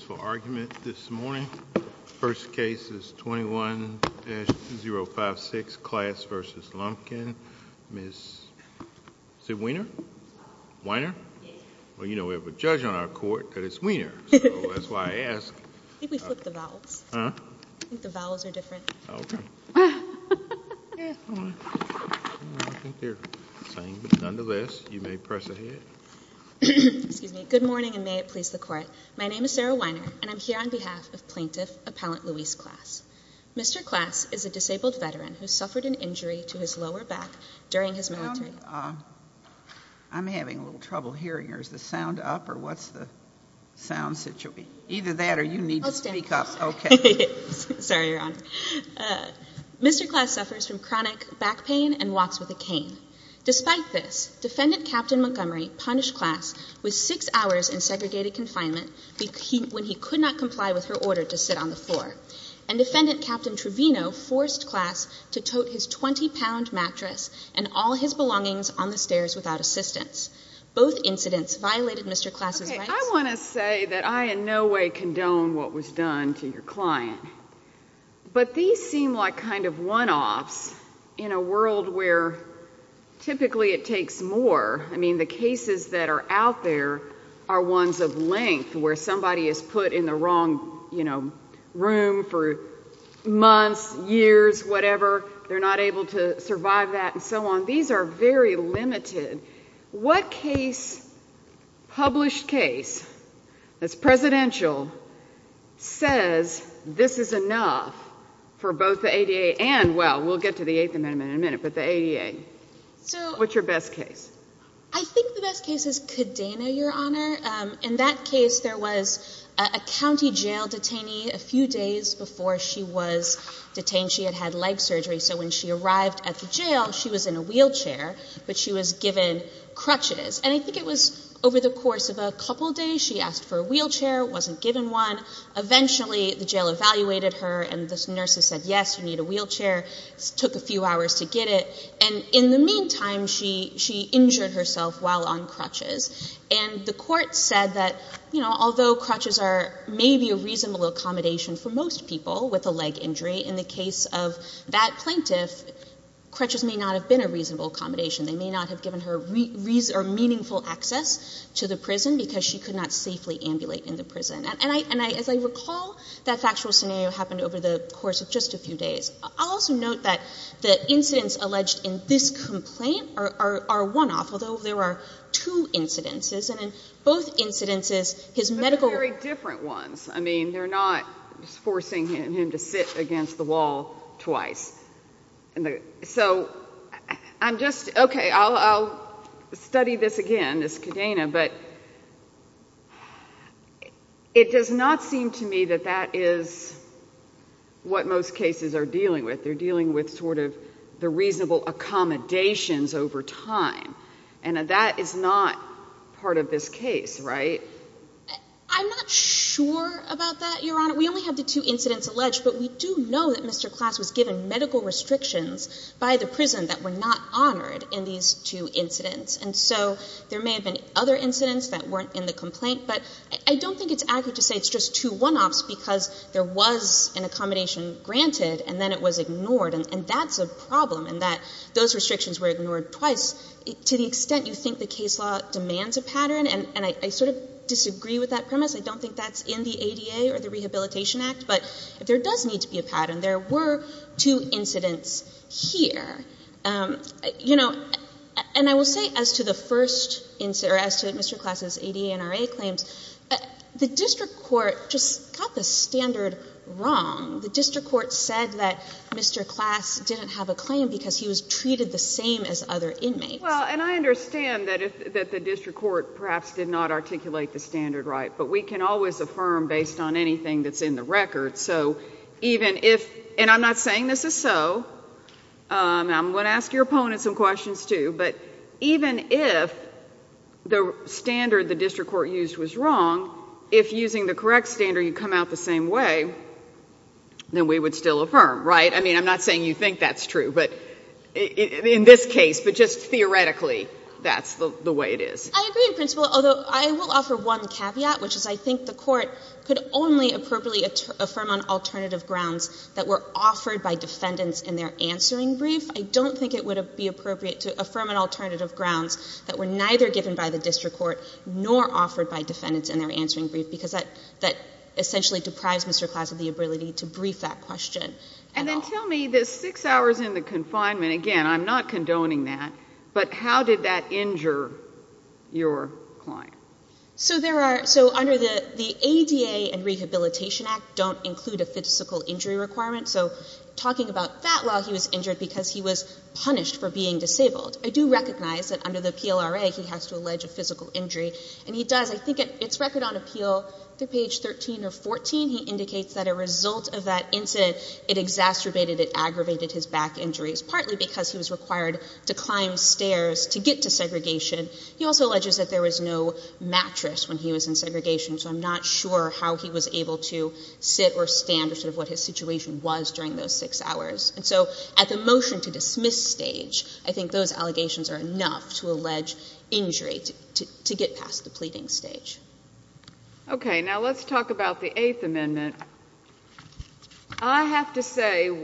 for argument this morning. First case is 21-056, Class v. Lumpkin. Ms. Weiner. Well, you know we have a judge on our court, but it's Weiner, so that's why I asked. Good morning, and may it please the court. My name is Sarah Weiner, and I'm here on behalf of Plaintiff Appellant Louise Klaas. Mr. Klaas is a disabled veteran who suffered an injury to his lower back during his military service. I'm having a little trouble hearing, or is the sound up, or what's the sound situation? Either that, or you need to speak up. Okay. Sorry, Your Honor. Mr. Klaas suffers from chronic back pain and walks with a cane. Despite this, Defendant Captain Montgomery punished Klaas with six hours in segregated confinement when he could not comply with her order to sit on the floor, and Defendant Captain Trevino forced Klaas to tote his 20-pound mattress and all his belongings on the stairs without assistance. Both incidents violated Mr. Klaas's rights. Okay, I want to say that I in no way condone what was done to your client, but these seem like kind of one-offs in a world where typically it takes more. I mean, the cases that are out there are ones of length where somebody is put in the wrong, you know, room for months, years, whatever. They're not able to survive that, and so on. These are very limited. What case, published case, that's presidential, says this is enough for both the ADA and, well, we'll get to the Eighth Amendment in a minute, but the ADA. So what's your best case? I think the best case is Kadena, Your Honor. In that case, there was a county jail detainee a few days before she was detained. She had had leg surgery, so when she arrived at the jail, she was in a wheelchair, but she was given crutches, and I think it was over the course of a couple days she asked for a wheelchair, wasn't given one. Eventually, the jail evaluated her, and the nurses said, yes, you need a wheelchair. It took a few hours to get it, and in the meantime, she injured herself while on crutches, and the court said that, you know, although crutches are maybe a reasonable accommodation for most people with a leg injury, in the case of that plaintiff, crutches may not have been a reasonable accommodation. They may not have given her meaningful access to the prison because she could not safely ambulate in the prison, and as I recall, that factual scenario happened over the course of just a few days. I'll also note that the incidents alleged in this complaint are one-off, although there are two incidences, and in both incidences, his medical... But they're very different ones. I mean, they're not just forcing him to sit against the wall twice. So, I'm just, okay, I'll study this again, this cadena, but it does not seem to me that that is what most cases are dealing with. They're dealing with the reasonable accommodations over time, and that is not part of this case, right? I'm not sure about that, Your Honor. We only have the two incidents alleged, but we do know that Mr. Klass was given medical restrictions by the prison that were not honored in these two incidents, and so there may have been other incidents that weren't in the complaint, but I don't think it's accurate to say it's just two one-offs because there was an accommodation granted, and then it was ignored, and that's a problem in that those restrictions were ignored twice. To the extent you think the case law demands a pattern, and I sort of disagree with that premise. I don't think that's in the ADA or the Rehabilitation Act, but if there does need to be a pattern, there were two incidents here. You know, and I will say as to the first incident, or as to Mr. Klass's ADA claims, the district court just got the standard wrong. The district court said that Mr. Klass didn't have a claim because he was treated the same as other inmates. Well, and I understand that the district court perhaps did not articulate the standard right, but we can always affirm based on anything that's in the record, so even if, and I'm not saying this is so. I'm going to ask your the standard the district court used was wrong. If using the correct standard you come out the same way, then we would still affirm, right? I mean, I'm not saying you think that's true, but in this case, but just theoretically, that's the way it is. I agree, Principal, although I will offer one caveat, which is I think the court could only appropriately affirm on alternative grounds that were offered by defendants in their answering brief. I don't think it would be appropriate to by the district court nor offered by defendants in their answering brief because that essentially deprives Mr. Klass of the ability to brief that question at all. And then tell me the six hours in the confinement, again, I'm not condoning that, but how did that injure your client? So there are, so under the ADA and Rehabilitation Act don't include a physical injury requirement, so talking about that while he was injured because he was punished for being disabled, I do recognize that under the PLRA he has to allege a physical injury, and he does. I think it's record on appeal through page 13 or 14 he indicates that a result of that incident, it exacerbated, it aggravated his back injuries, partly because he was required to climb stairs to get to segregation. He also alleges that there was no mattress when he was in segregation, so I'm not sure how he was able to sit or stand or sort of what his situation was during those six hours. And so at the motion to dismiss stage, I think those allegations are enough to allege injury to get past the pleading stage. Okay, now let's talk about the Eighth Amendment. I have to say,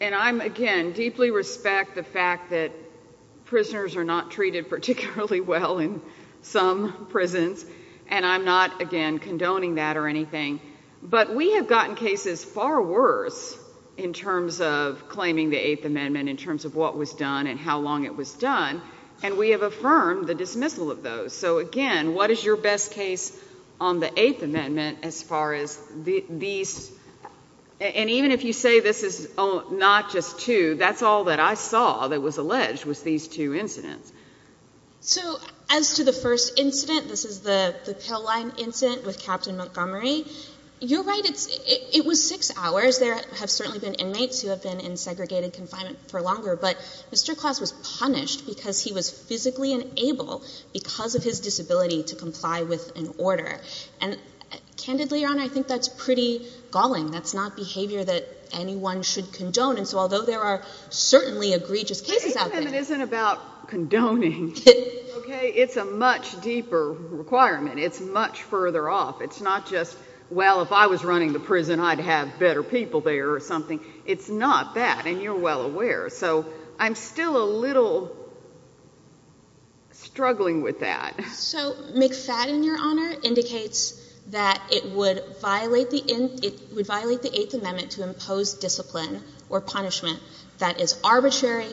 and I'm again deeply respect the fact that prisoners are not treated particularly well in some prisons, and I'm not again condoning that or anything, but we have gotten cases far worse in terms of claiming the Eighth Amendment in terms of what was done and how long it was done, and we have affirmed the dismissal of those. So again, what is your best case on the Eighth Amendment as far as these, and even if you say this is not just two, that's all that I saw that was alleged was these two incidents. So as to the first incident, this is the pill line incident with Captain Montgomery. You're right, it was six hours. There have certainly been inmates who have been in segregated confinement for longer, but Mr. Klaus was punished because he was physically unable because of his disability to comply with an order. And candidly, Your Honor, I think that's pretty galling. That's not behavior that anyone should condone, and so although there are certainly egregious cases out there... The Eighth Amendment isn't about condoning, okay? It's a much deeper requirement. It's much further off. It's not just, well, if I was running the prison, I'd have better people there or something. It's not that, and you're well aware. So I'm still a little struggling with that. So McFadden, Your Honor, indicates that it would violate the Eighth Amendment to impose discipline or punishment that is here.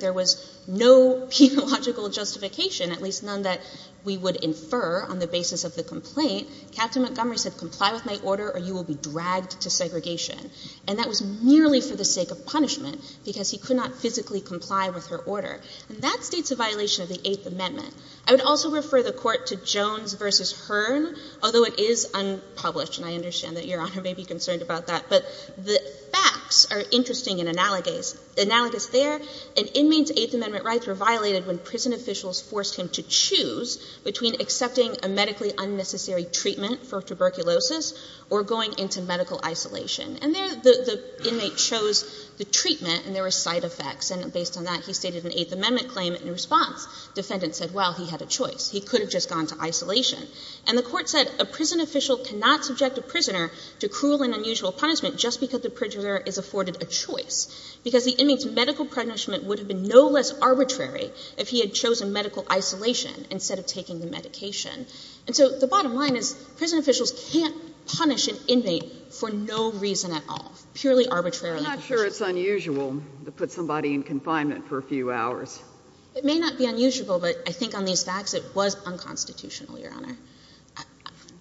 There was no pedagogical justification, at least none that we would infer on the basis of the complaint. Captain Montgomery said, comply with my order or you will be dragged to segregation. And that was merely for the sake of punishment because he could not physically comply with her order. And that states a violation of the Eighth Amendment. I would also refer the Court to Jones v. Hearn, although it is unpublished, and I understand that Your Honor may be concerned about that. But the facts are interesting and analogous there. An inmate's Eighth Amendment rights were violated when prison officials forced him to choose between accepting a medically unnecessary treatment for tuberculosis or going into medical isolation. And there, the inmate chose the treatment, and there were side effects. And based on that, he stated an Eighth Amendment claim. In response, defendants said, well, he had a choice. He could have just gone to isolation. And the Court said a prison official cannot subject a prisoner to cruel and unusual punishment just because the prisoner is afforded a choice, because the inmate's medical punishment would have been no less arbitrary if he had chosen medical isolation instead of taking the medication. And so the bottom line is prison officials can't punish an inmate for no reason at all, purely arbitrarily. I'm not sure it's unusual to put somebody in confinement for a few hours. It may not be unusual, but I think on these facts it was unconstitutional, Your Honor.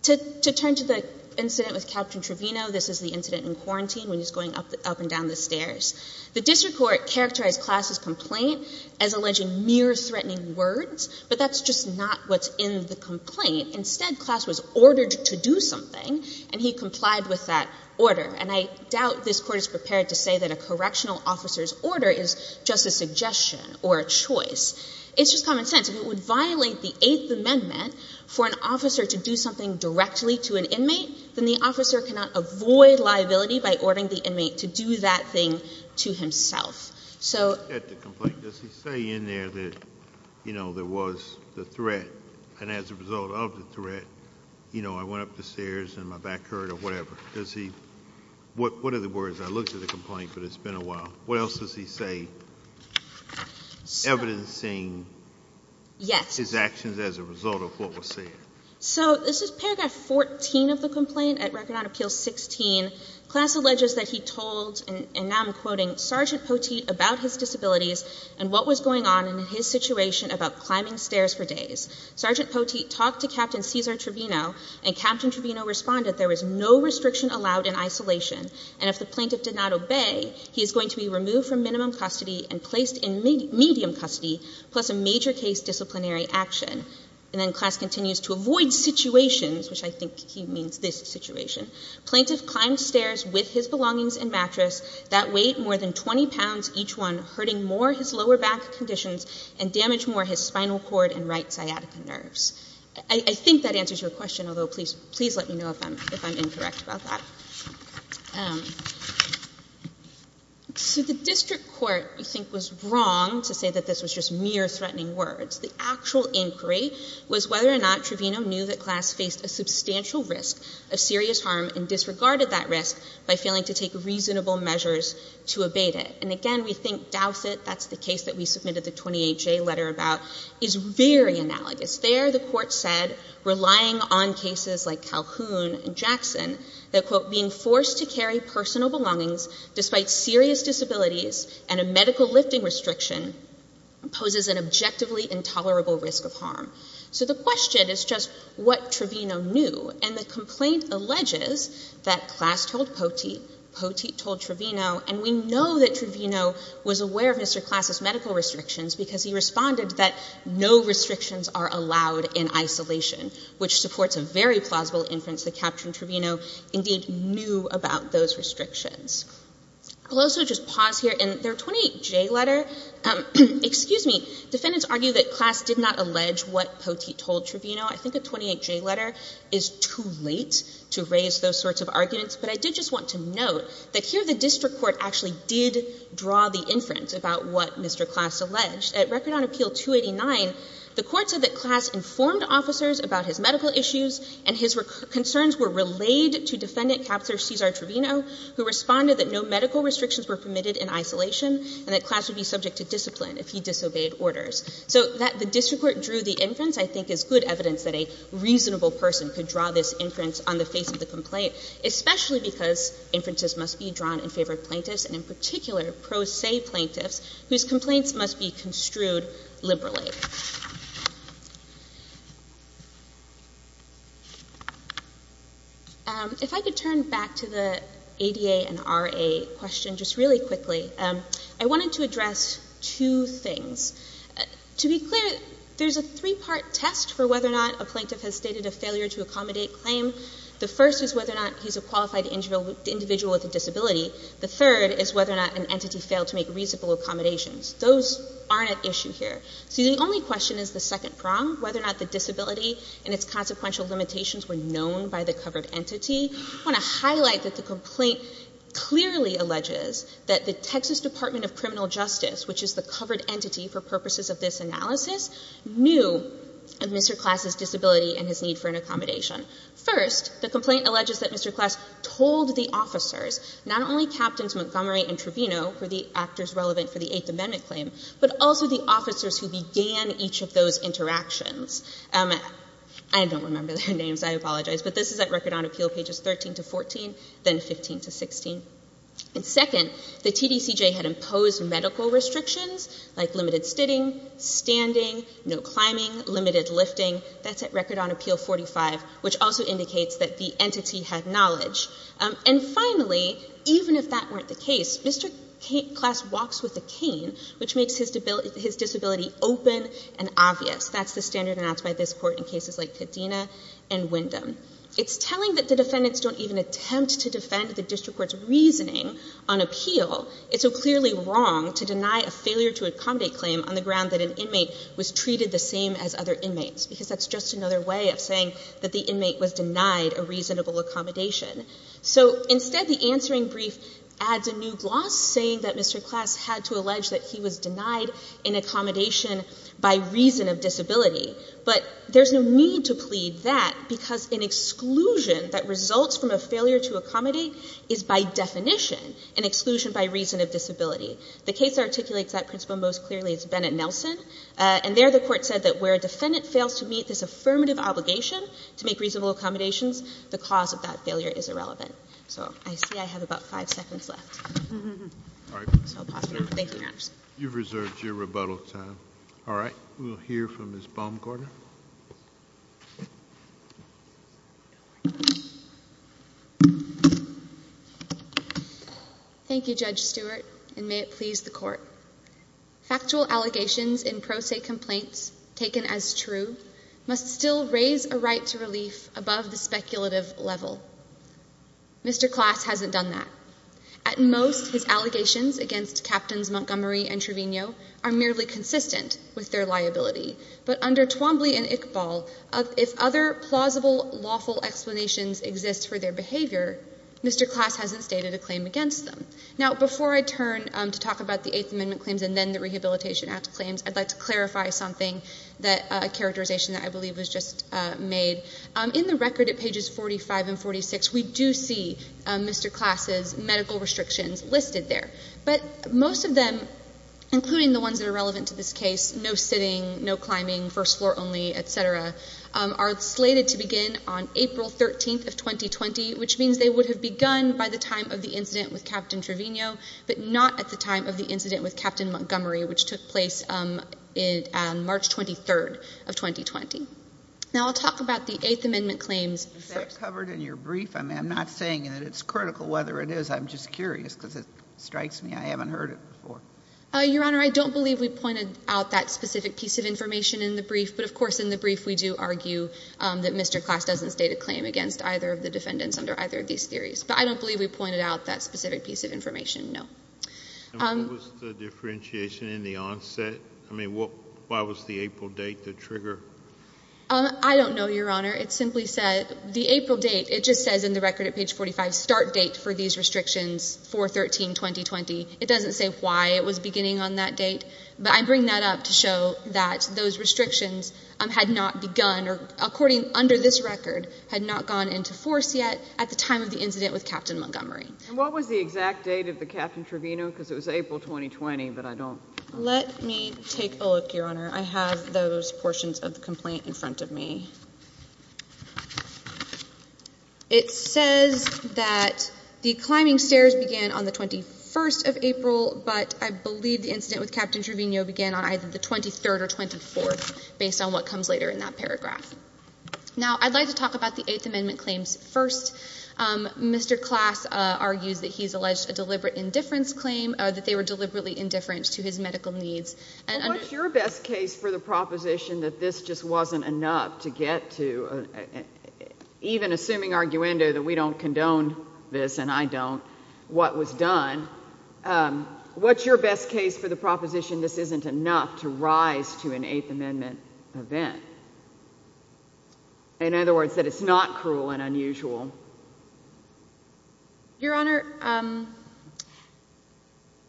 To turn to the incident with Captain Trevino, this is the incident in quarantine when he's going up and down the stairs. The district court characterized Class' complaint as alleging mere threatening words, but that's just not what's in the complaint. Instead, Class was ordered to do something, and he complied with that order. And I doubt this Court is prepared to say that a correctional officer's order is just a suggestion or a choice. It's just common sense. If it would violate the Eighth Amendment for an officer to do something directly to an inmate, then the officer cannot avoid liability by ordering the inmate to do that thing to himself. At the complaint, does he say in there that, you know, there was the threat, and as a result of the threat, you know, I went up the stairs and my back hurt or whatever? What are the words? I looked at the complaint, but it's been a while. What else does he say? Evidencing his actions as a result of what was said. So this is Paragraph 14 of the complaint at Record on Appeal 16. Class alleges that he told, and now I'm quoting, Sergeant Poteet about his disabilities and what was going on in his situation about climbing stairs for days. Sergeant Poteet talked to Captain Cesar Trevino, and Captain Trevino responded there was no restriction allowed in isolation, and if the plaintiff did not obey, he is going to be removed from minimum custody and placed in medium custody, plus a major case disciplinary action. And then class continues to avoid situations, which I think he means this situation. Plaintiff climbed stairs with his belongings and mattress that weighed more than 20 pounds each one, hurting more his lower back conditions and damaged more his spinal cord and right sciatica nerves. I think that answers your question, although please let me know if I'm incorrect about that. So the district court, we think, was wrong to say that this was just mere threatening words. The actual inquiry was whether or not Trevino knew that class faced a substantial risk of serious harm and disregarded that risk by failing to take reasonable measures to abate it. And again, we think Dowsett, that's the case that we submitted the 28-J letter about, is very analogous. There, the court said, relying on cases like Calhoun and Jackson, that, quote, being forced to carry personal belongings despite serious disabilities and a medical lifting restriction poses an objectively intolerable risk of harm. So the question is just what Trevino knew. And the complaint alleges that class told Poteet, Poteet told Trevino, and we know that Trevino was aware of Mr. Class's medical restrictions because he responded that no restrictions are allowed in isolation, which supports a very plausible inference that Captain Trevino indeed knew about those restrictions. I'll also just pause here. In their 28-J letter, excuse me, defendants argue that class did not allege what Poteet told Trevino. I think a 28-J letter is too late to raise those sorts of arguments, but I did just want to note that here the district court actually did draw the inference about what Mr. Class alleged. At Record on Appeal 289, the court said that Class informed officers about his medical issues and his concerns were relayed to defendant Captain Cesar Trevino, who responded that no medical restrictions were permitted in isolation and that Class would be subject to discipline if he disobeyed orders. So that the district court drew the inference, I think, is good evidence that a reasonable person could draw this inference on the face of the complaint, especially because inferences must be drawn in favor of plaintiffs, and in particular pro se plaintiffs, whose complaints must be construed liberally. If I could turn back to the ADA and RA question just really quickly. I wanted to address two things. To be clear, there's a three-part test for whether or not a plaintiff has stated a failure to accommodate claim. The first is whether or not he's a qualified individual with a disability. The third is whether or not an entity failed to make reasonable accommodations. Those aren't at issue here. See, the only question is the second prong, whether or not the disability and its consequential limitations were known by the covered entity. I want to highlight that the complaint clearly alleges that the Texas Department of Criminal Justice, which is the covered entity for purposes of this analysis, knew of Mr. Class's disability and his need for an accommodation. First, the complaint alleges that Mr. Class told the officers, not only Captains Montgomery and Trevino, who are the actors relevant for the Eighth Amendment claim, but also the officers who began each of those interactions. I don't remember their names. I apologize. But this is at Record on Appeal, pages 13 to 14, then 15 to 16. And second, the TDCJ had imposed medical restrictions, like limited sitting, standing, no climbing, limited lifting. That's at Record on Appeal 45, which also indicates that the entity had knowledge. And finally, even if that weren't the case, Mr. Class walks with a cane, which makes his disability open and obvious. That's the standard announced by this Court in cases like Kadena and Windham. It's telling that the defendants don't even attempt to defend the district court's reasoning on appeal. It's so clearly wrong to deny a failure to accommodate claim on the ground that an inmate was treated the same as other inmates, because that's just another way of saying that the inmate was denied a reasonable accommodation. So, instead, the answering brief adds a new gloss, saying that Mr. Class had to allege that he was denied an accommodation by reason of disability. But there's no need to plead that, because an exclusion that results from a failure to accommodate is, by definition, an exclusion by reason of disability. The case that articulates that principle most clearly is Bennett-Nelson. And there, the Court said that where a defendant fails to meet this affirmative obligation to make reasonable accommodations, the cause of that failure is irrelevant. So, I see I have about five seconds left. All right. So, I'll pause now. Thank you, Your Honor. You've reserved your rebuttal time. All right. We'll hear from Ms. Baumgartner. Thank you, Judge Stewart, and may it please the Court. Factual allegations in pro se complaints taken as true must still raise a right to relief above the speculative level. Mr. Class hasn't done that. At most, his allegations against Captains Montgomery and Trevino are merely consistent with their liability. But under Twombly and Iqbal, if other plausible lawful explanations exist for their behavior, Mr. Class hasn't stated a claim against them. Now, before I turn to talk about the Eighth Amendment claims and then the Rehabilitation Act claims, I'd like to clarify something, a characterization that I believe was just made. In the record at pages 45 and 46, we do see Mr. Class's medical restrictions listed there. But most of them, including the ones that are relevant to this case, no sitting, no climbing, first floor only, et cetera, are slated to begin on April 13th of 2020, which means they would have begun by the time of the incident with Captain Trevino but not at the time of the incident with Captain Montgomery, which took place on March 23rd of 2020. Now, I'll talk about the Eighth Amendment claims. Is that covered in your brief? I mean, I'm not saying that it's critical whether it is. I'm just curious because it strikes me I haven't heard it before. Your Honor, I don't believe we pointed out that specific piece of information in the brief. But of course, in the brief, we do argue that Mr. Class doesn't state a claim against either of the defendants under either of these theories. But I don't believe we pointed out that specific piece of information, no. And what was the differentiation in the onset? I mean, why was the April date the trigger? I don't know, Your Honor. It simply said, the April date, it just says in the record at page 45, start date for these restrictions, 4-13-2020. It doesn't say why it was beginning on that date. But I bring that up to show that those restrictions had not begun, or according, under this record, had not gone into force yet at the time of the incident with Captain Montgomery. And what was the exact date of the Captain Trevino? Because it was April 2020, but I don't... Let me take a look, Your Honor. I have those portions of the complaint in front of me. It says that the climbing stairs began on the 21st of April, but I believe the incident with Captain Trevino began on either the 23rd or 24th, based on what comes later in that paragraph. Now, I'd like to talk about the Eighth Amendment claims first. Mr. Klass argues that he's alleged a deliberate indifference claim, that they were deliberately indifferent to his medical needs. And under... What's your best case for the proposition that this just wasn't enough to get to, even assuming arguendo, that we don't condone this, and I don't, what was done, um, what's your best case for the proposition this isn't enough to rise to an Eighth Amendment event? In other words, that it's not cruel and unusual. Your Honor, um,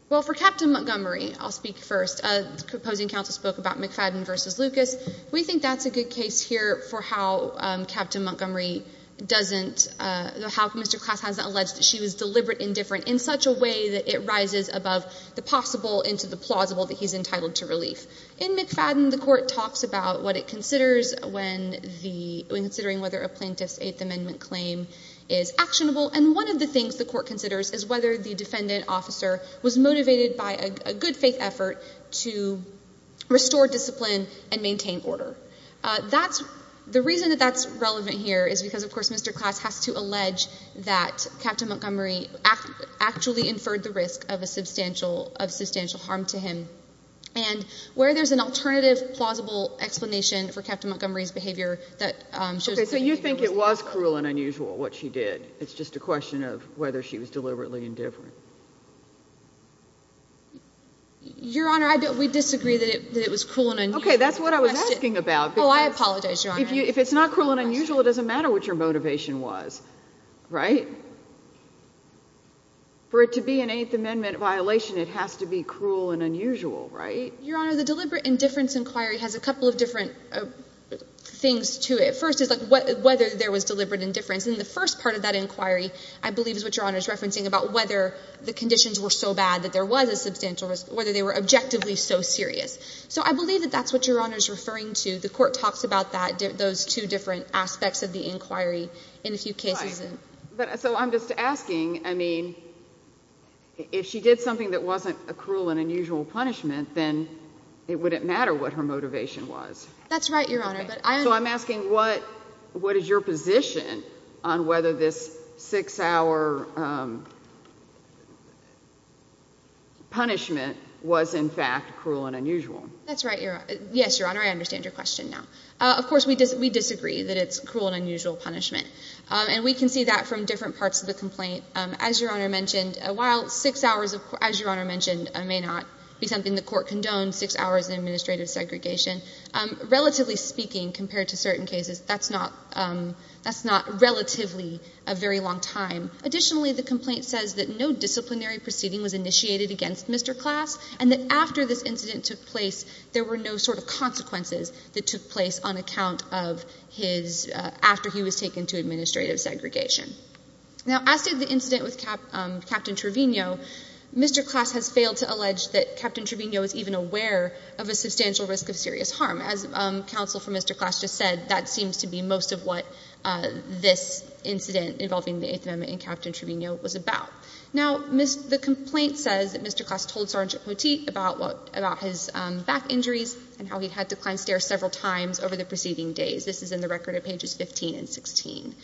well, for Captain Montgomery, I'll speak first. The opposing counsel spoke about McFadden versus Lucas. We think that's a good case here for how, um, Captain Montgomery doesn't, uh, how Mr. Klass hasn't alleged that she was deliberate indifferent in such a way that it rises above the possible into the plausible that he's entitled to relief. In McFadden, the court talks about what it considers when the, when considering whether a plaintiff's Eighth Amendment claim is actionable. And one of the things the court considers is whether the defendant officer was motivated by a good faith effort to restore discipline and maintain order. That's, the reason that that's relevant here is because, of course, Mr. Klass has to allege that Captain Montgomery actually inferred the risk of a substantial, of substantial harm to him. And where there's an alternative plausible explanation for Captain Montgomery's behavior that, um, Okay, so you think it was cruel and unusual what she did. It's just a question of whether she was deliberately indifferent. Your Honor, I don't, we disagree that it was cruel and unusual. Okay, that's what I was asking about. Oh, I apologize, Your Honor. If you, if it's not cruel and unusual, it doesn't matter what your motivation was, right? For it to be an Eighth Amendment violation, it has to be cruel and unusual, right? Your Honor, the deliberate indifference inquiry has a couple of different, uh, things to it. First is like what, whether there was deliberate indifference in the first part of that inquiry, I believe is what Your Honor is referencing about whether the conditions were so bad that there was a substantial whether they were objectively so serious. So I believe that that's what Your Honor is referring to. The court talks about that, those two different aspects of the inquiry in a few cases. So I'm just asking, I mean, if she did something that wasn't a cruel and unusual punishment, then it wouldn't matter what her motivation was. That's right, Your Honor. So I'm asking what, what is your position on whether this six-hour punishment was, in fact, cruel and unusual? That's right, Your Honor. Yes, Your Honor, I understand your question now. Of course, we disagree that it's cruel and unusual punishment. And we can see that from different parts of the complaint. As Your Honor mentioned, while six hours, as Your Honor mentioned, may not be something the court condoned, six hours of administrative segregation, relatively speaking, compared to certain cases, that's not, that's not relatively a very long time. Additionally, the complaint says that no disciplinary proceeding was initiated against Mr. Class, and that after this incident took place, there were no sort of consequences that took place on account of his, after he was taken to administrative segregation. Now, as did the incident with Captain Trevino, Mr. Class has failed to allege that Captain Trevino is even aware of a substantial risk of serious harm. As counsel for Mr. Class just said, that seems to be most of what this incident involving the Eighth Amendment and Captain Trevino was about. Now, the complaint says that Mr. Class told Sergeant Poteet about what, about his back injuries and how he had declined stairs several times over the preceding days. This is in the record at pages 15 and 16.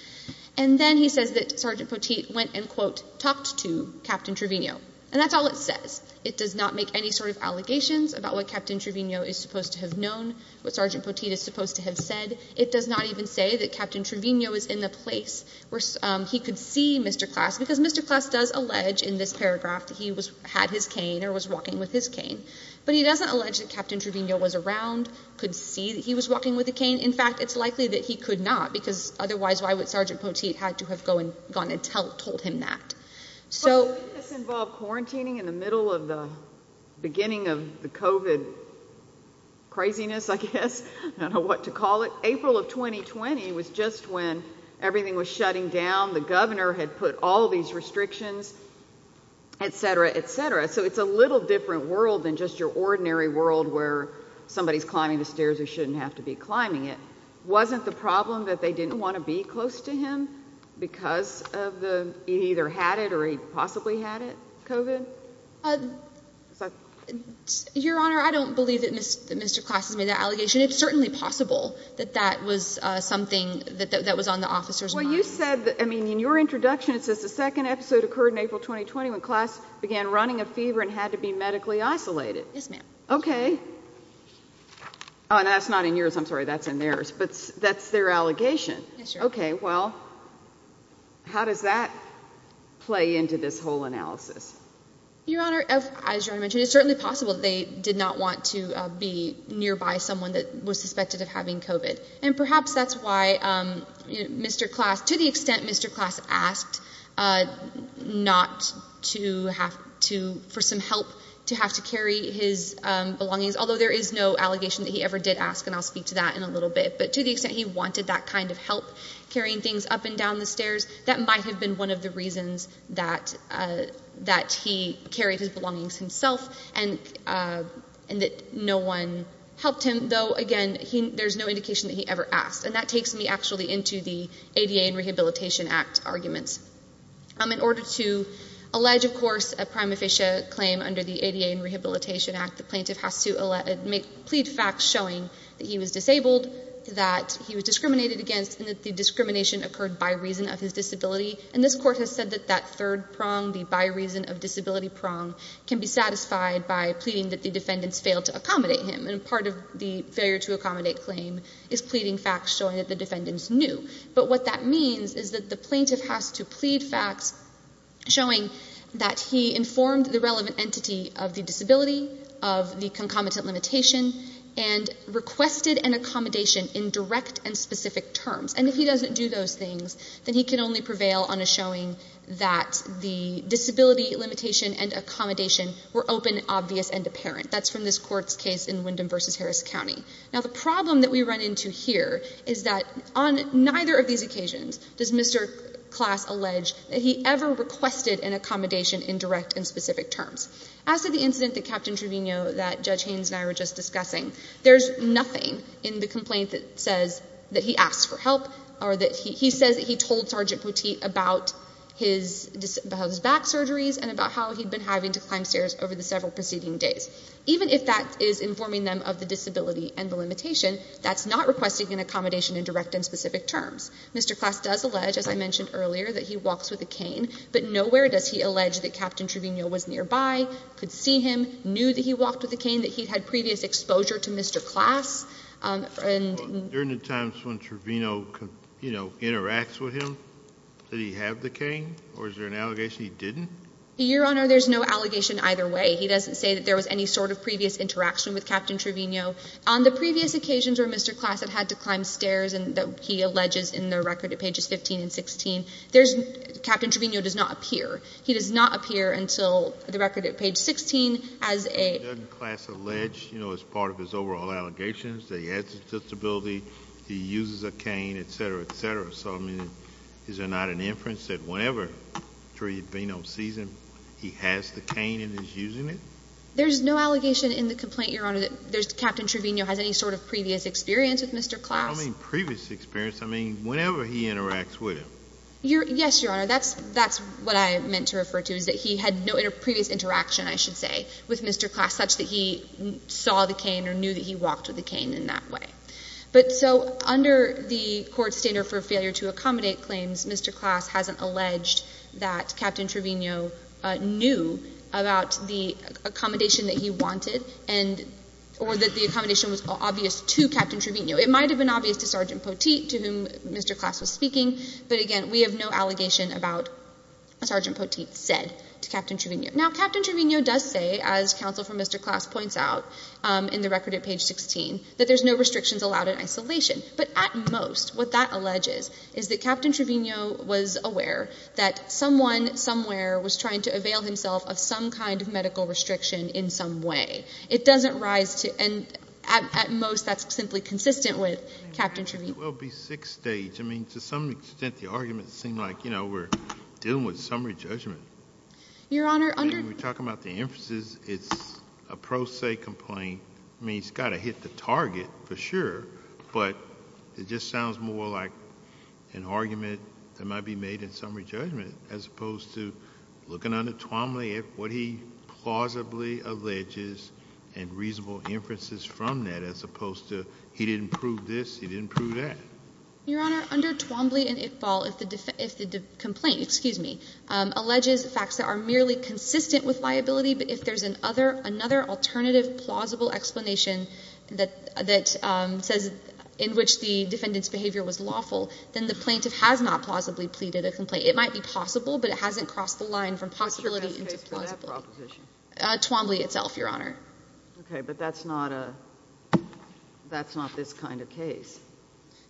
And then he says that Sergeant Poteet went and, quote, talked to Captain Trevino. And that's all it says. It does not make any sort of allegations about what Captain Trevino is supposed to have known, what Sergeant Poteet is supposed to have said. It does not even say that Captain Trevino is in the place where he could see Mr. Class, because Mr. Class does allege in this paragraph that he was, had his cane or was walking with his cane. But he doesn't allege that Captain Trevino was around, could see that he was walking with a cane. In fact, it's likely that he could not, because otherwise, why would Sergeant Poteet had to have gone and told him that? So... But didn't this involve quarantining in the middle of the COVID craziness, I guess? I don't know what to call it. April of 2020 was just when everything was shutting down. The governor had put all these restrictions, etc., etc. So it's a little different world than just your ordinary world where somebody's climbing the stairs who shouldn't have to be climbing it. Wasn't the problem that they didn't want to be close to him because of your honor, I don't believe that Mr. Class has made that allegation. It's certainly possible that that was something that was on the officer's mind. Well, you said that, I mean, in your introduction, it says the second episode occurred in April 2020 when Class began running a fever and had to be medically isolated. Yes, ma'am. Okay. Oh, and that's not in yours. I'm sorry, that's in theirs. But that's their allegation. Okay, well, how does that play into this whole Your honor, as you mentioned, it's certainly possible that they did not want to be nearby someone that was suspected of having COVID. And perhaps that's why Mr. Class, to the extent Mr. Class asked for some help to have to carry his belongings, although there is no allegation that he ever did ask, and I'll speak to that in a little bit, but to the extent he wanted that kind of help carrying things up and down the stairs, that might have been one of the reasons that he carried his belongings himself and that no one helped him, though, again, there's no indication that he ever asked. And that takes me actually into the ADA and Rehabilitation Act arguments. In order to allege, of course, a prime official claim under the ADA and Rehabilitation Act, the plaintiff has to plead facts showing that he was disabled, that he was discriminated against, and that the discrimination occurred by reason of his disability. And this court has said that that third prong, the by reason of disability prong, can be satisfied by pleading that the defendants failed to accommodate him. And part of the failure to accommodate claim is pleading facts showing that the defendants knew. But what that means is that the plaintiff has to plead facts showing that he informed the relevant entity of the disability, of the concomitant limitation, and requested an accommodation in direct and specific terms. Now, the problem that we run into here is that on neither of these occasions does Mr. Klass allege that he ever requested an accommodation in direct and specific terms. As to the incident that Captain Truvino, that Judge Haynes and I were just discussing, there's nothing in the complaint that says that he asked for help or that he says that he told Sergeant Poteet about his back surgeries and about how he'd been having to climb stairs over the several preceding days. Even if that is informing them of the disability and the limitation, that's not requesting an accommodation in direct and specific terms. Mr. Klass does allege, as I mentioned earlier, that he walks with a cane, but nowhere does he allege that Captain Truvino was nearby, could see him, knew that he walked with a cane, that he'd had previous exposure to Mr. Klass. During the times when Truvino, you know, interacts with him, did he have the cane or is there an allegation he didn't? Your Honor, there's no allegation either way. He doesn't say that there was any sort of previous interaction with Captain Truvino. On the previous occasions where Mr. Klass had had to climb stairs and that he alleges in the record at pages 15 and 16, Captain Truvino does not appear. He does not appear until the record at page 16 as a... Does Klass allege, you know, as part of his overall allegations that he has a disability, he uses a cane, et cetera, et cetera. So, I mean, is there not an inference that whenever Truvino sees him, he has the cane and is using it? There's no allegation in the complaint, Your Honor, that Captain Truvino has any sort of previous experience with Mr. Klass. I don't mean previous experience. I mean, whenever he interacts with him. Yes, Your Honor, that's what I meant to refer to, that he had no previous interaction, I should say, with Mr. Klass such that he saw the cane or knew that he walked with the cane in that way. But, so, under the court's standard for failure to accommodate claims, Mr. Klass hasn't alleged that Captain Truvino knew about the accommodation that he wanted and... Or that the accommodation was obvious to Captain Truvino. It might have been obvious to Sergeant Poteet, to whom Mr. Klass was speaking, but again, we have no allegation about what Sergeant Poteet said to Captain Truvino. Now, Captain Truvino does say, as counsel for Mr. Klass points out in the record at page 16, that there's no restrictions allowed in isolation. But at most, what that alleges is that Captain Truvino was aware that someone somewhere was trying to avail himself of some kind of medical restriction in some way. It doesn't rise to... And at most, that's simply consistent with Captain Truvino. It will be sixth stage. I mean, to some extent, the arguments seem like, you know, we're dealing with summary judgment. Your Honor, under... We're talking about the inferences. It's a pro se complaint. I mean, it's got to hit the target for sure, but it just sounds more like an argument that might be made in summary judgment, as opposed to looking under Tuomly at what he plausibly alleges and reasonable inferences from that, as Your Honor, under Tuomly and Iqbal, if the complaint, excuse me, alleges facts that are merely consistent with liability, but if there's another alternative plausible explanation that says in which the defendant's behavior was lawful, then the plaintiff has not plausibly pleaded a complaint. It might be possible, but it hasn't crossed the line from possibility into plausibility. What's your best case for that proposition? Tuomly itself, Your Honor. Okay, but that's not this kind of case.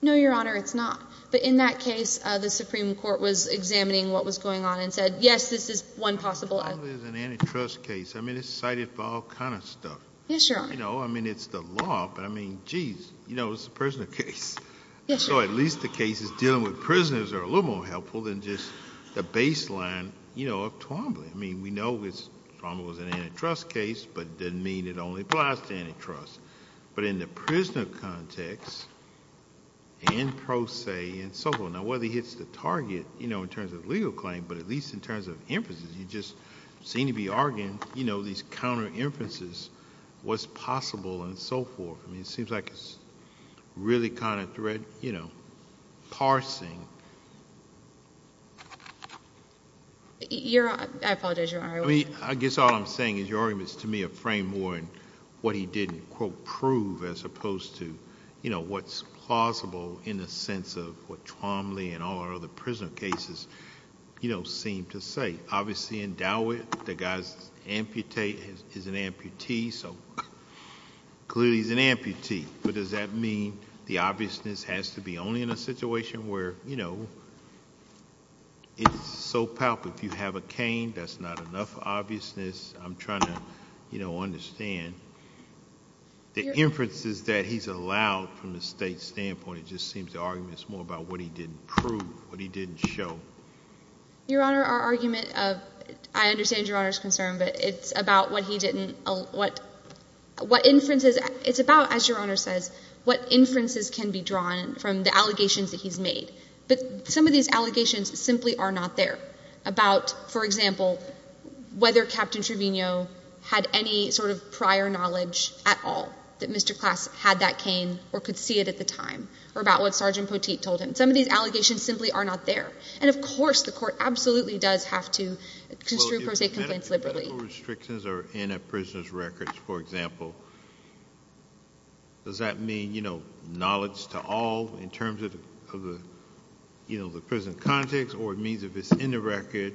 No, Your Honor, it's not. But in that case, the Supreme Court was examining what was going on and said, yes, this is one possible... Tuomly is an antitrust case. I mean, it's cited for all kind of stuff. Yes, Your Honor. You know, I mean, it's the law, but I mean, geez, you know, it's a prisoner case. So at least the cases dealing with prisoners are a little more helpful than just the baseline, you know, of Tuomly. I mean, we know Tuomly was an antitrust case, but it doesn't mean it only applies to antitrust. But in the prisoner context and pro se and so forth, now, whether he hits the target, you know, in terms of legal claim, but at least in terms of inferences, you just seem to be arguing, you know, these counter inferences, what's possible and so forth. I mean, it seems like it's really kind of thread, you know, parsing. Your Honor, I apologize, Your Honor. I guess all I'm saying is your argument is, to me, a frame more in what he didn't, quote, prove as opposed to, you know, what's plausible in the sense of what Tuomly and all our other prisoner cases, you know, seem to say. Obviously, in Dawit, the guy is an amputee, so clearly he's an amputee, but does that mean the obviousness has to be only in a situation where, you know, it's so palpable. If you have a cane, that's not enough obviousness. I'm trying to, you know, understand. The inferences that he's allowed from the state standpoint, it just seems the argument is more about what he didn't prove, what he didn't show. Your Honor, our argument of, I understand Your Honor's concern, but it's about what he didn't, what inferences, it's about, as Your Honor says, what inferences can be drawn from the case. But some of these allegations simply are not there about, for example, whether Captain Trevino had any sort of prior knowledge at all that Mr. Klass had that cane or could see it at the time, or about what Sergeant Poteet told him. Some of these allegations simply are not there, and of course the court absolutely does have to construe pro se complaints liberally. If medical restrictions are in a prisoner's records, for example, does that mean, you know, knowledge to all in terms of the, you know, the prison context, or it means if it's in the record,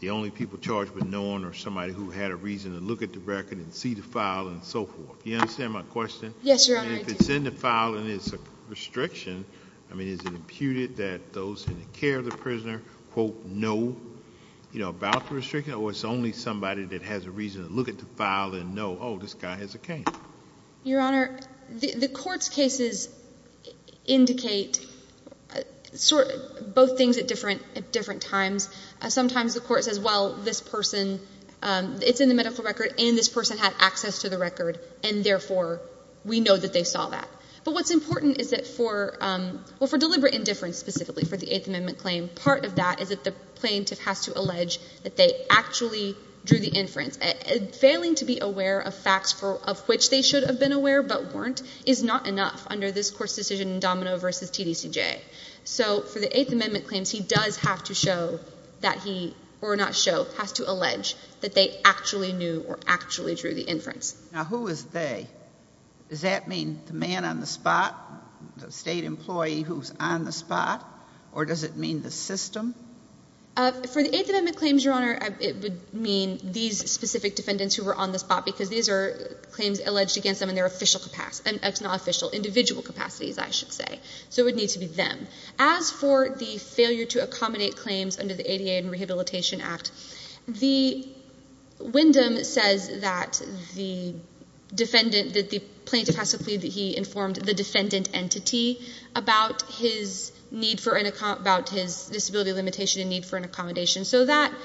the only people charged with knowing are somebody who had a reason to look at the record and see the file and so forth. You understand my question? Yes, Your Honor. And if it's in the file and it's a restriction, I mean, is it imputed that those in the care of the prisoner, quote, know, you know, about the restriction, or it's only somebody that has a file and know, oh, this guy has a cane? Your Honor, the court's cases indicate both things at different times. Sometimes the court says, well, this person, it's in the medical record, and this person had access to the record, and therefore we know that they saw that. But what's important is that for, well, for deliberate indifference specifically for the Eighth Amendment claim, part of that is that the aware of facts of which they should have been aware but weren't is not enough under this court's decision in Domino v. TDCJ. So for the Eighth Amendment claims, he does have to show that he, or not show, has to allege that they actually knew or actually drew the inference. Now, who is they? Does that mean the man on the spot, the state employee who's on the spot, or does it mean the system? For the Eighth Amendment claims, Your Honor, it would mean these specific defendants who were on the spot because these are claims alleged against them in their official capacity, it's not official, individual capacities, I should say. So it would need to be them. As for the failure to accommodate claims under the ADA and Rehabilitation Act, the Wyndham says that the defendant, that the plaintiff has to plead that he informed the defendant entity about his need for an, about his disability limitation and need for an informed TDCJ,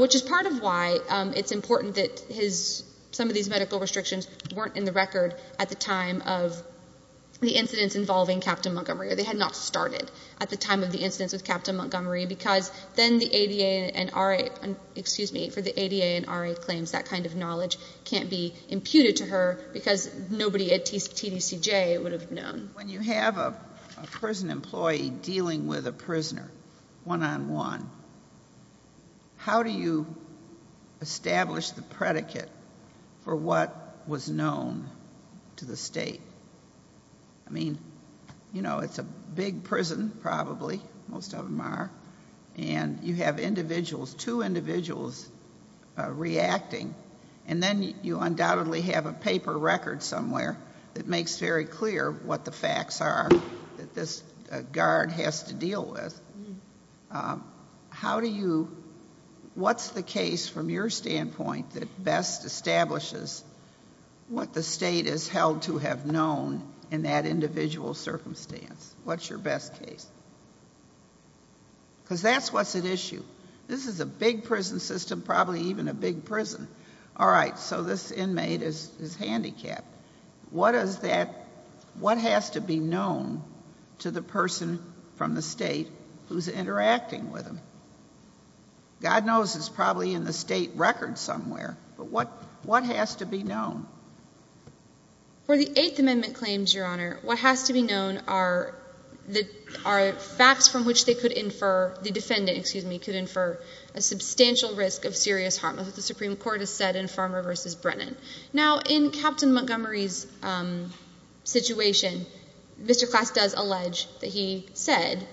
which is part of why it's important that his, some of these medical restrictions weren't in the record at the time of the incidents involving Captain Montgomery, or they had not started at the time of the incidents with Captain Montgomery because then the ADA and RA, excuse me, for the ADA and RA claims, that kind of knowledge can't be imputed to her because nobody at TDCJ would have known. When you have a prison employee dealing with a prisoner one-on-one, how do you establish the predicate for what was known to the state? I mean, you know, it's a big prison, probably, most of them are, and you have individuals, two individuals reacting, and then you undoubtedly have a paper record somewhere that makes very clear what the facts are that this guard has to deal with. How do you, what's the case from your standpoint that best establishes what the state is held to have known in that individual circumstance? What's your best case? Because that's what's at issue. This is a big prison system, probably even a big prison. All right, so this inmate is handicapped. What does that, what has to be known to the person from the state who's interacting with him? God knows it's probably in the state record somewhere, but what has to be known? For the Eighth Amendment claims, Your Honor, what has to be known are the, are facts from which they could infer, the defendant, excuse me, could infer a substantial risk of serious harm, as the Supreme Court has said in Farmer v. Brennan. Now, in Captain Montgomery's situation, Mr. Klass does allege that he said,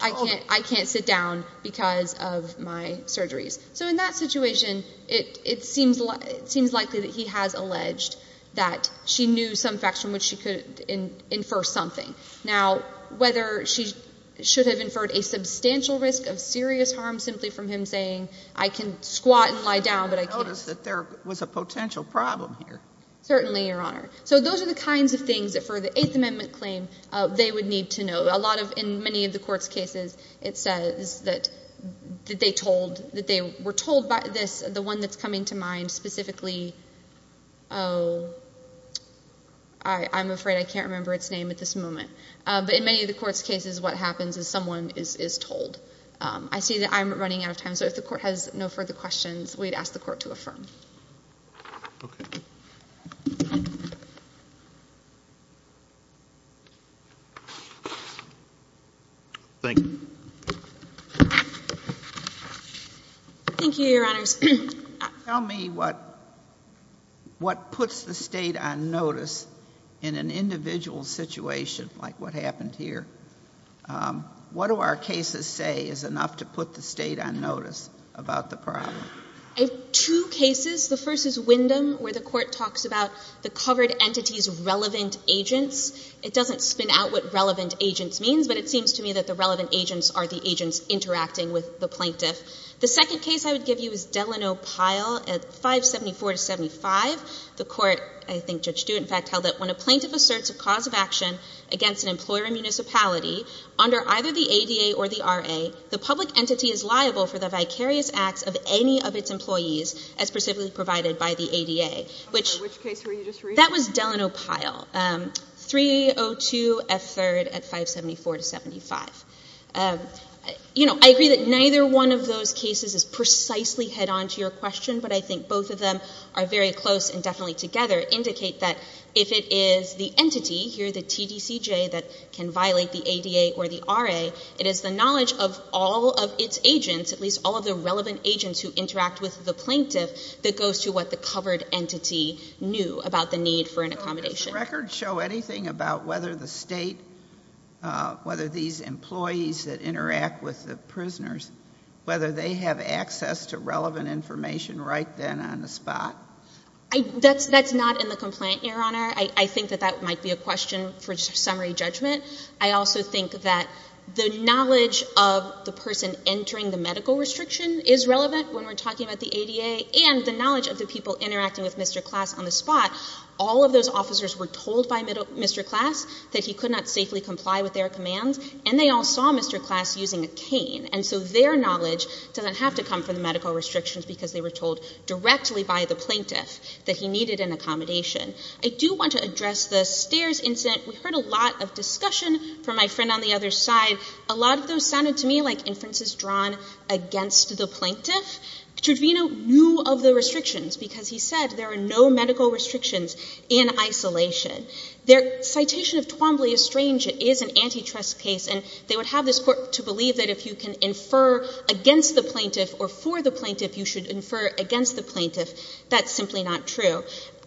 I can't sit down because of my surgeries. So in that situation, it seems likely that he has alleged that she knew some facts from which she could infer something. Now, whether she should have inferred a substantial risk of serious harm, I can squat and lie down, but I can't. I noticed that there was a potential problem here. Certainly, Your Honor. So those are the kinds of things that for the Eighth Amendment claim, they would need to know. A lot of, in many of the court's cases, it says that they told, that they were told by this, the one that's coming to mind specifically, oh, I'm afraid I can't remember its name at this moment. But in many of the court's cases, what happens is someone is told. I see that I'm running out of time, so if the court has no further questions, we'd ask the court to affirm. Thank you. Thank you, Your Honors. Tell me what puts the state on notice in an individual situation like what happened here. What do our cases say is enough to put the state on notice about the problem? I have two cases. The first is Wyndham, where the court talks about the covered entity's relevant agents. It doesn't spin out what relevant agents means, but it seems to me that the relevant agents are the agents interacting with the plaintiff. The second case I would give you is Delano Pyle at 574 to 75. The court, I think Judge Stewart in fact, held that when a plaintiff asserts a cause of action against an employer or municipality under either the ADA or the RA, the public entity is liable for the vicarious acts of any of its employees as specifically provided by the ADA. Which case were you just reading? That was Delano Pyle, 302 F. 3rd at 574 to 75. You know, I agree that neither one of those cases is precisely head-on to your question, but I think both of them are very close and definitely together indicate that if it is the entity, here the TDCJ, that can violate the ADA or the RA, it is the knowledge of all of its agents, at least all of the relevant agents who interact with the plaintiff, that goes to what the covered entity knew about the need for an accommodation. Does the record show anything about whether the state, whether these employees that interact with the prisoners, whether they have access to relevant information right then on the spot? That's not in the complaint, Your Honor. I think that that might be a question for summary judgment. I also think that the knowledge of the person entering the medical restriction is relevant when we're talking about the ADA and the knowledge of the people interacting with Mr. Klass on the spot. All of those officers were told by Mr. Klass that he could not safely comply with their commands, and they all saw Mr. Klass using a cane. And so their knowledge doesn't have to come from the medical restrictions because they were told directly by the plaintiff that he needed an accommodation. I do want to address the stairs incident. We heard a lot of discussion from my friend on the other side. A lot of those sounded to me like inferences drawn against the plaintiff. Trudvino knew of the restrictions because he said there are no medical restrictions in isolation. Their citation of Twombly is strange. It is an antitrust case, and they would have this court to believe that if you can infer against the plaintiff or for the plaintiff, you should infer against the plaintiff. That's simply not true.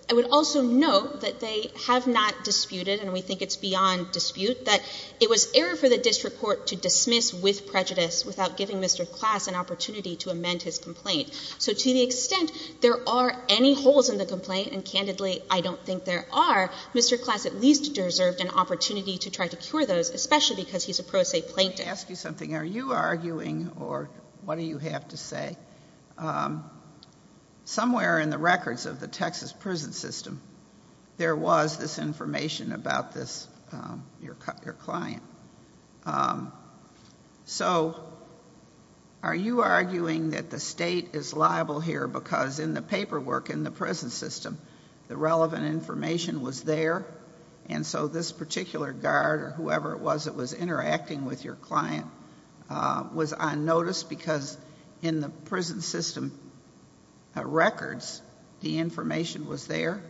I would also note that they have not disputed, and we think it's beyond dispute, that it was error for the district court to dismiss with prejudice without giving Mr. Klass an opportunity to amend his complaint. So to the extent there are any holes in the complaint, and candidly, I don't think there are, Mr. Klass at least deserved an opportunity to try to cure those, especially because he's a pro se plaintiff. Let me ask you something. Are you arguing, or what do you have to say, somewhere in the records of the Texas prison system, there was this information about this, your client. So are you arguing that the state is liable here because in the paperwork in the records, the information was there, and so this particular guard or whoever it was that was interacting with your client was on notice because in the prison system records, the information was there?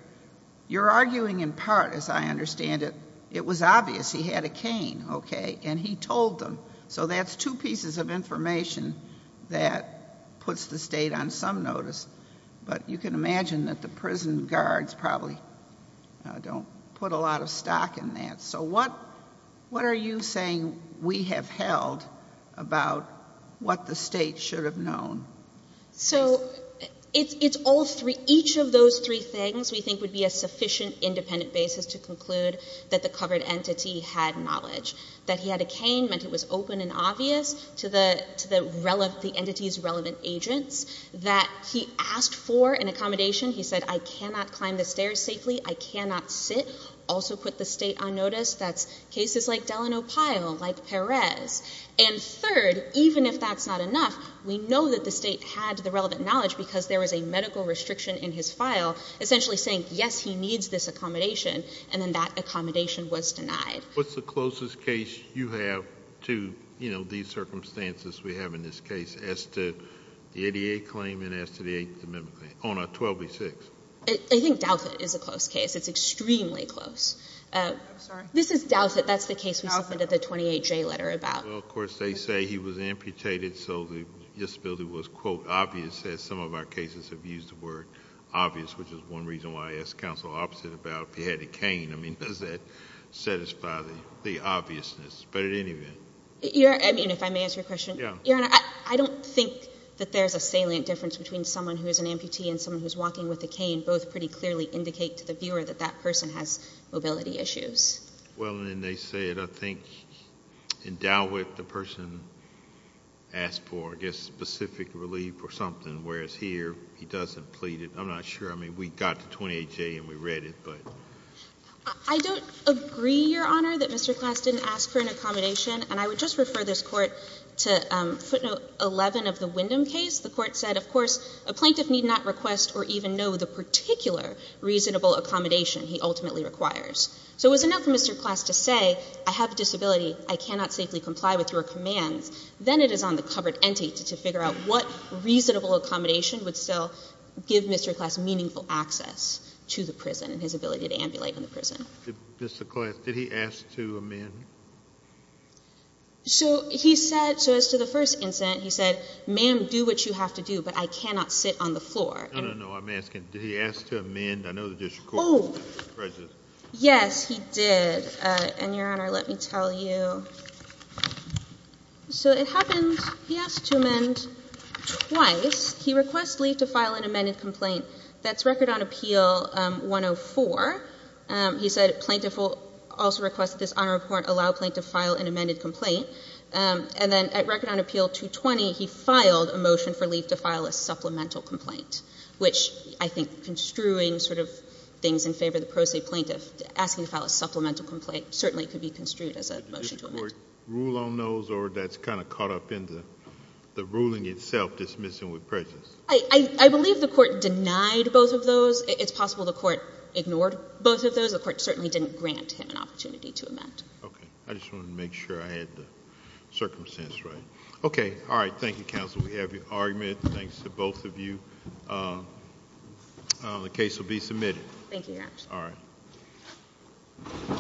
You're arguing in part, as I understand it, it was obvious he had a cane, okay, and he told them. So that's two pieces of information that puts the state on some notice, but you can put a lot of stock in that. So what are you saying we have held about what the state should have known? So it's all three. Each of those three things we think would be a sufficient independent basis to conclude that the covered entity had knowledge. That he had a cane meant it was open and obvious to the entity's relevant agents. That he asked for an accommodation. He said I cannot climb the stairs safely. I cannot sit. Also put the state on notice. That's cases like Delano Pyle, like Perez. And third, even if that's not enough, we know that the state had the relevant knowledge because there was a medical restriction in his file essentially saying yes, he needs this accommodation, and then that accommodation was denied. What's the closest case you have to, you know, these circumstances we have in this case as to the 88 claim and as to the 28th amendment claim? Oh no, 12B6. I think Douthat is a close case. It's extremely close. This is Douthat. That's the case we submitted the 28J letter about. Well of course they say he was amputated so the disability was quote obvious as some of our cases have used the word obvious, which is one reason why I asked counsel opposite about if he had a cane. I mean does that satisfy the obviousness? But at any rate. Your Honor, I mean if I may answer your question. Yeah. Your Honor, I don't think that there's a salient difference between someone who's an amputee and someone who's walking with a cane. Both pretty clearly indicate to the viewer that that person has mobility issues. Well and then they say it, I think in Dalwick the person asked for I guess specific relief or something, whereas here he doesn't plead it. I'm not sure. I mean we got the 28J and we read it, but. I don't agree, Your Honor, that Mr. Klass didn't ask for an amputation. The court said of course a plaintiff need not request or even know the particular reasonable accommodation he ultimately requires. So it was enough for Mr. Klass to say, I have a disability. I cannot safely comply with your commands. Then it is on the covered entity to figure out what reasonable accommodation would still give Mr. Klass meaningful access to the prison and his ability to ambulate in the prison. Mr. Klass, did he ask to amend? So he said, so as to the first incident, he said, ma'am do what you have to do, but I cannot sit on the floor. No, no, no, I'm asking, did he ask to amend? I know the district court. Oh, yes he did. And Your Honor, let me tell you. So it happened, he asked to amend twice. He requests leave to file an amended complaint. That's record on appeal 104. He said plaintiff also requests that this honor report allow plaintiff to file an amended complaint. And then at record on appeal 220, he filed a motion for leave to file a supplemental complaint, which I think construing sort of things in favor of the pro se plaintiff, asking to file a supplemental complaint certainly could be construed as a motion to amend. Did the district court rule on those or that's kind of caught up in the ruling itself, dismissing with prejudice? I believe the court denied both of those. It's possible the court ignored both of those. The court certainly didn't grant him an opportunity to amend. Okay. I just wanted to make sure I had the circumstance right. Okay. All right. Thank you, counsel. We have your argument. Thanks to both of you. The case will be submitted. Thank you, Your Honor. All right.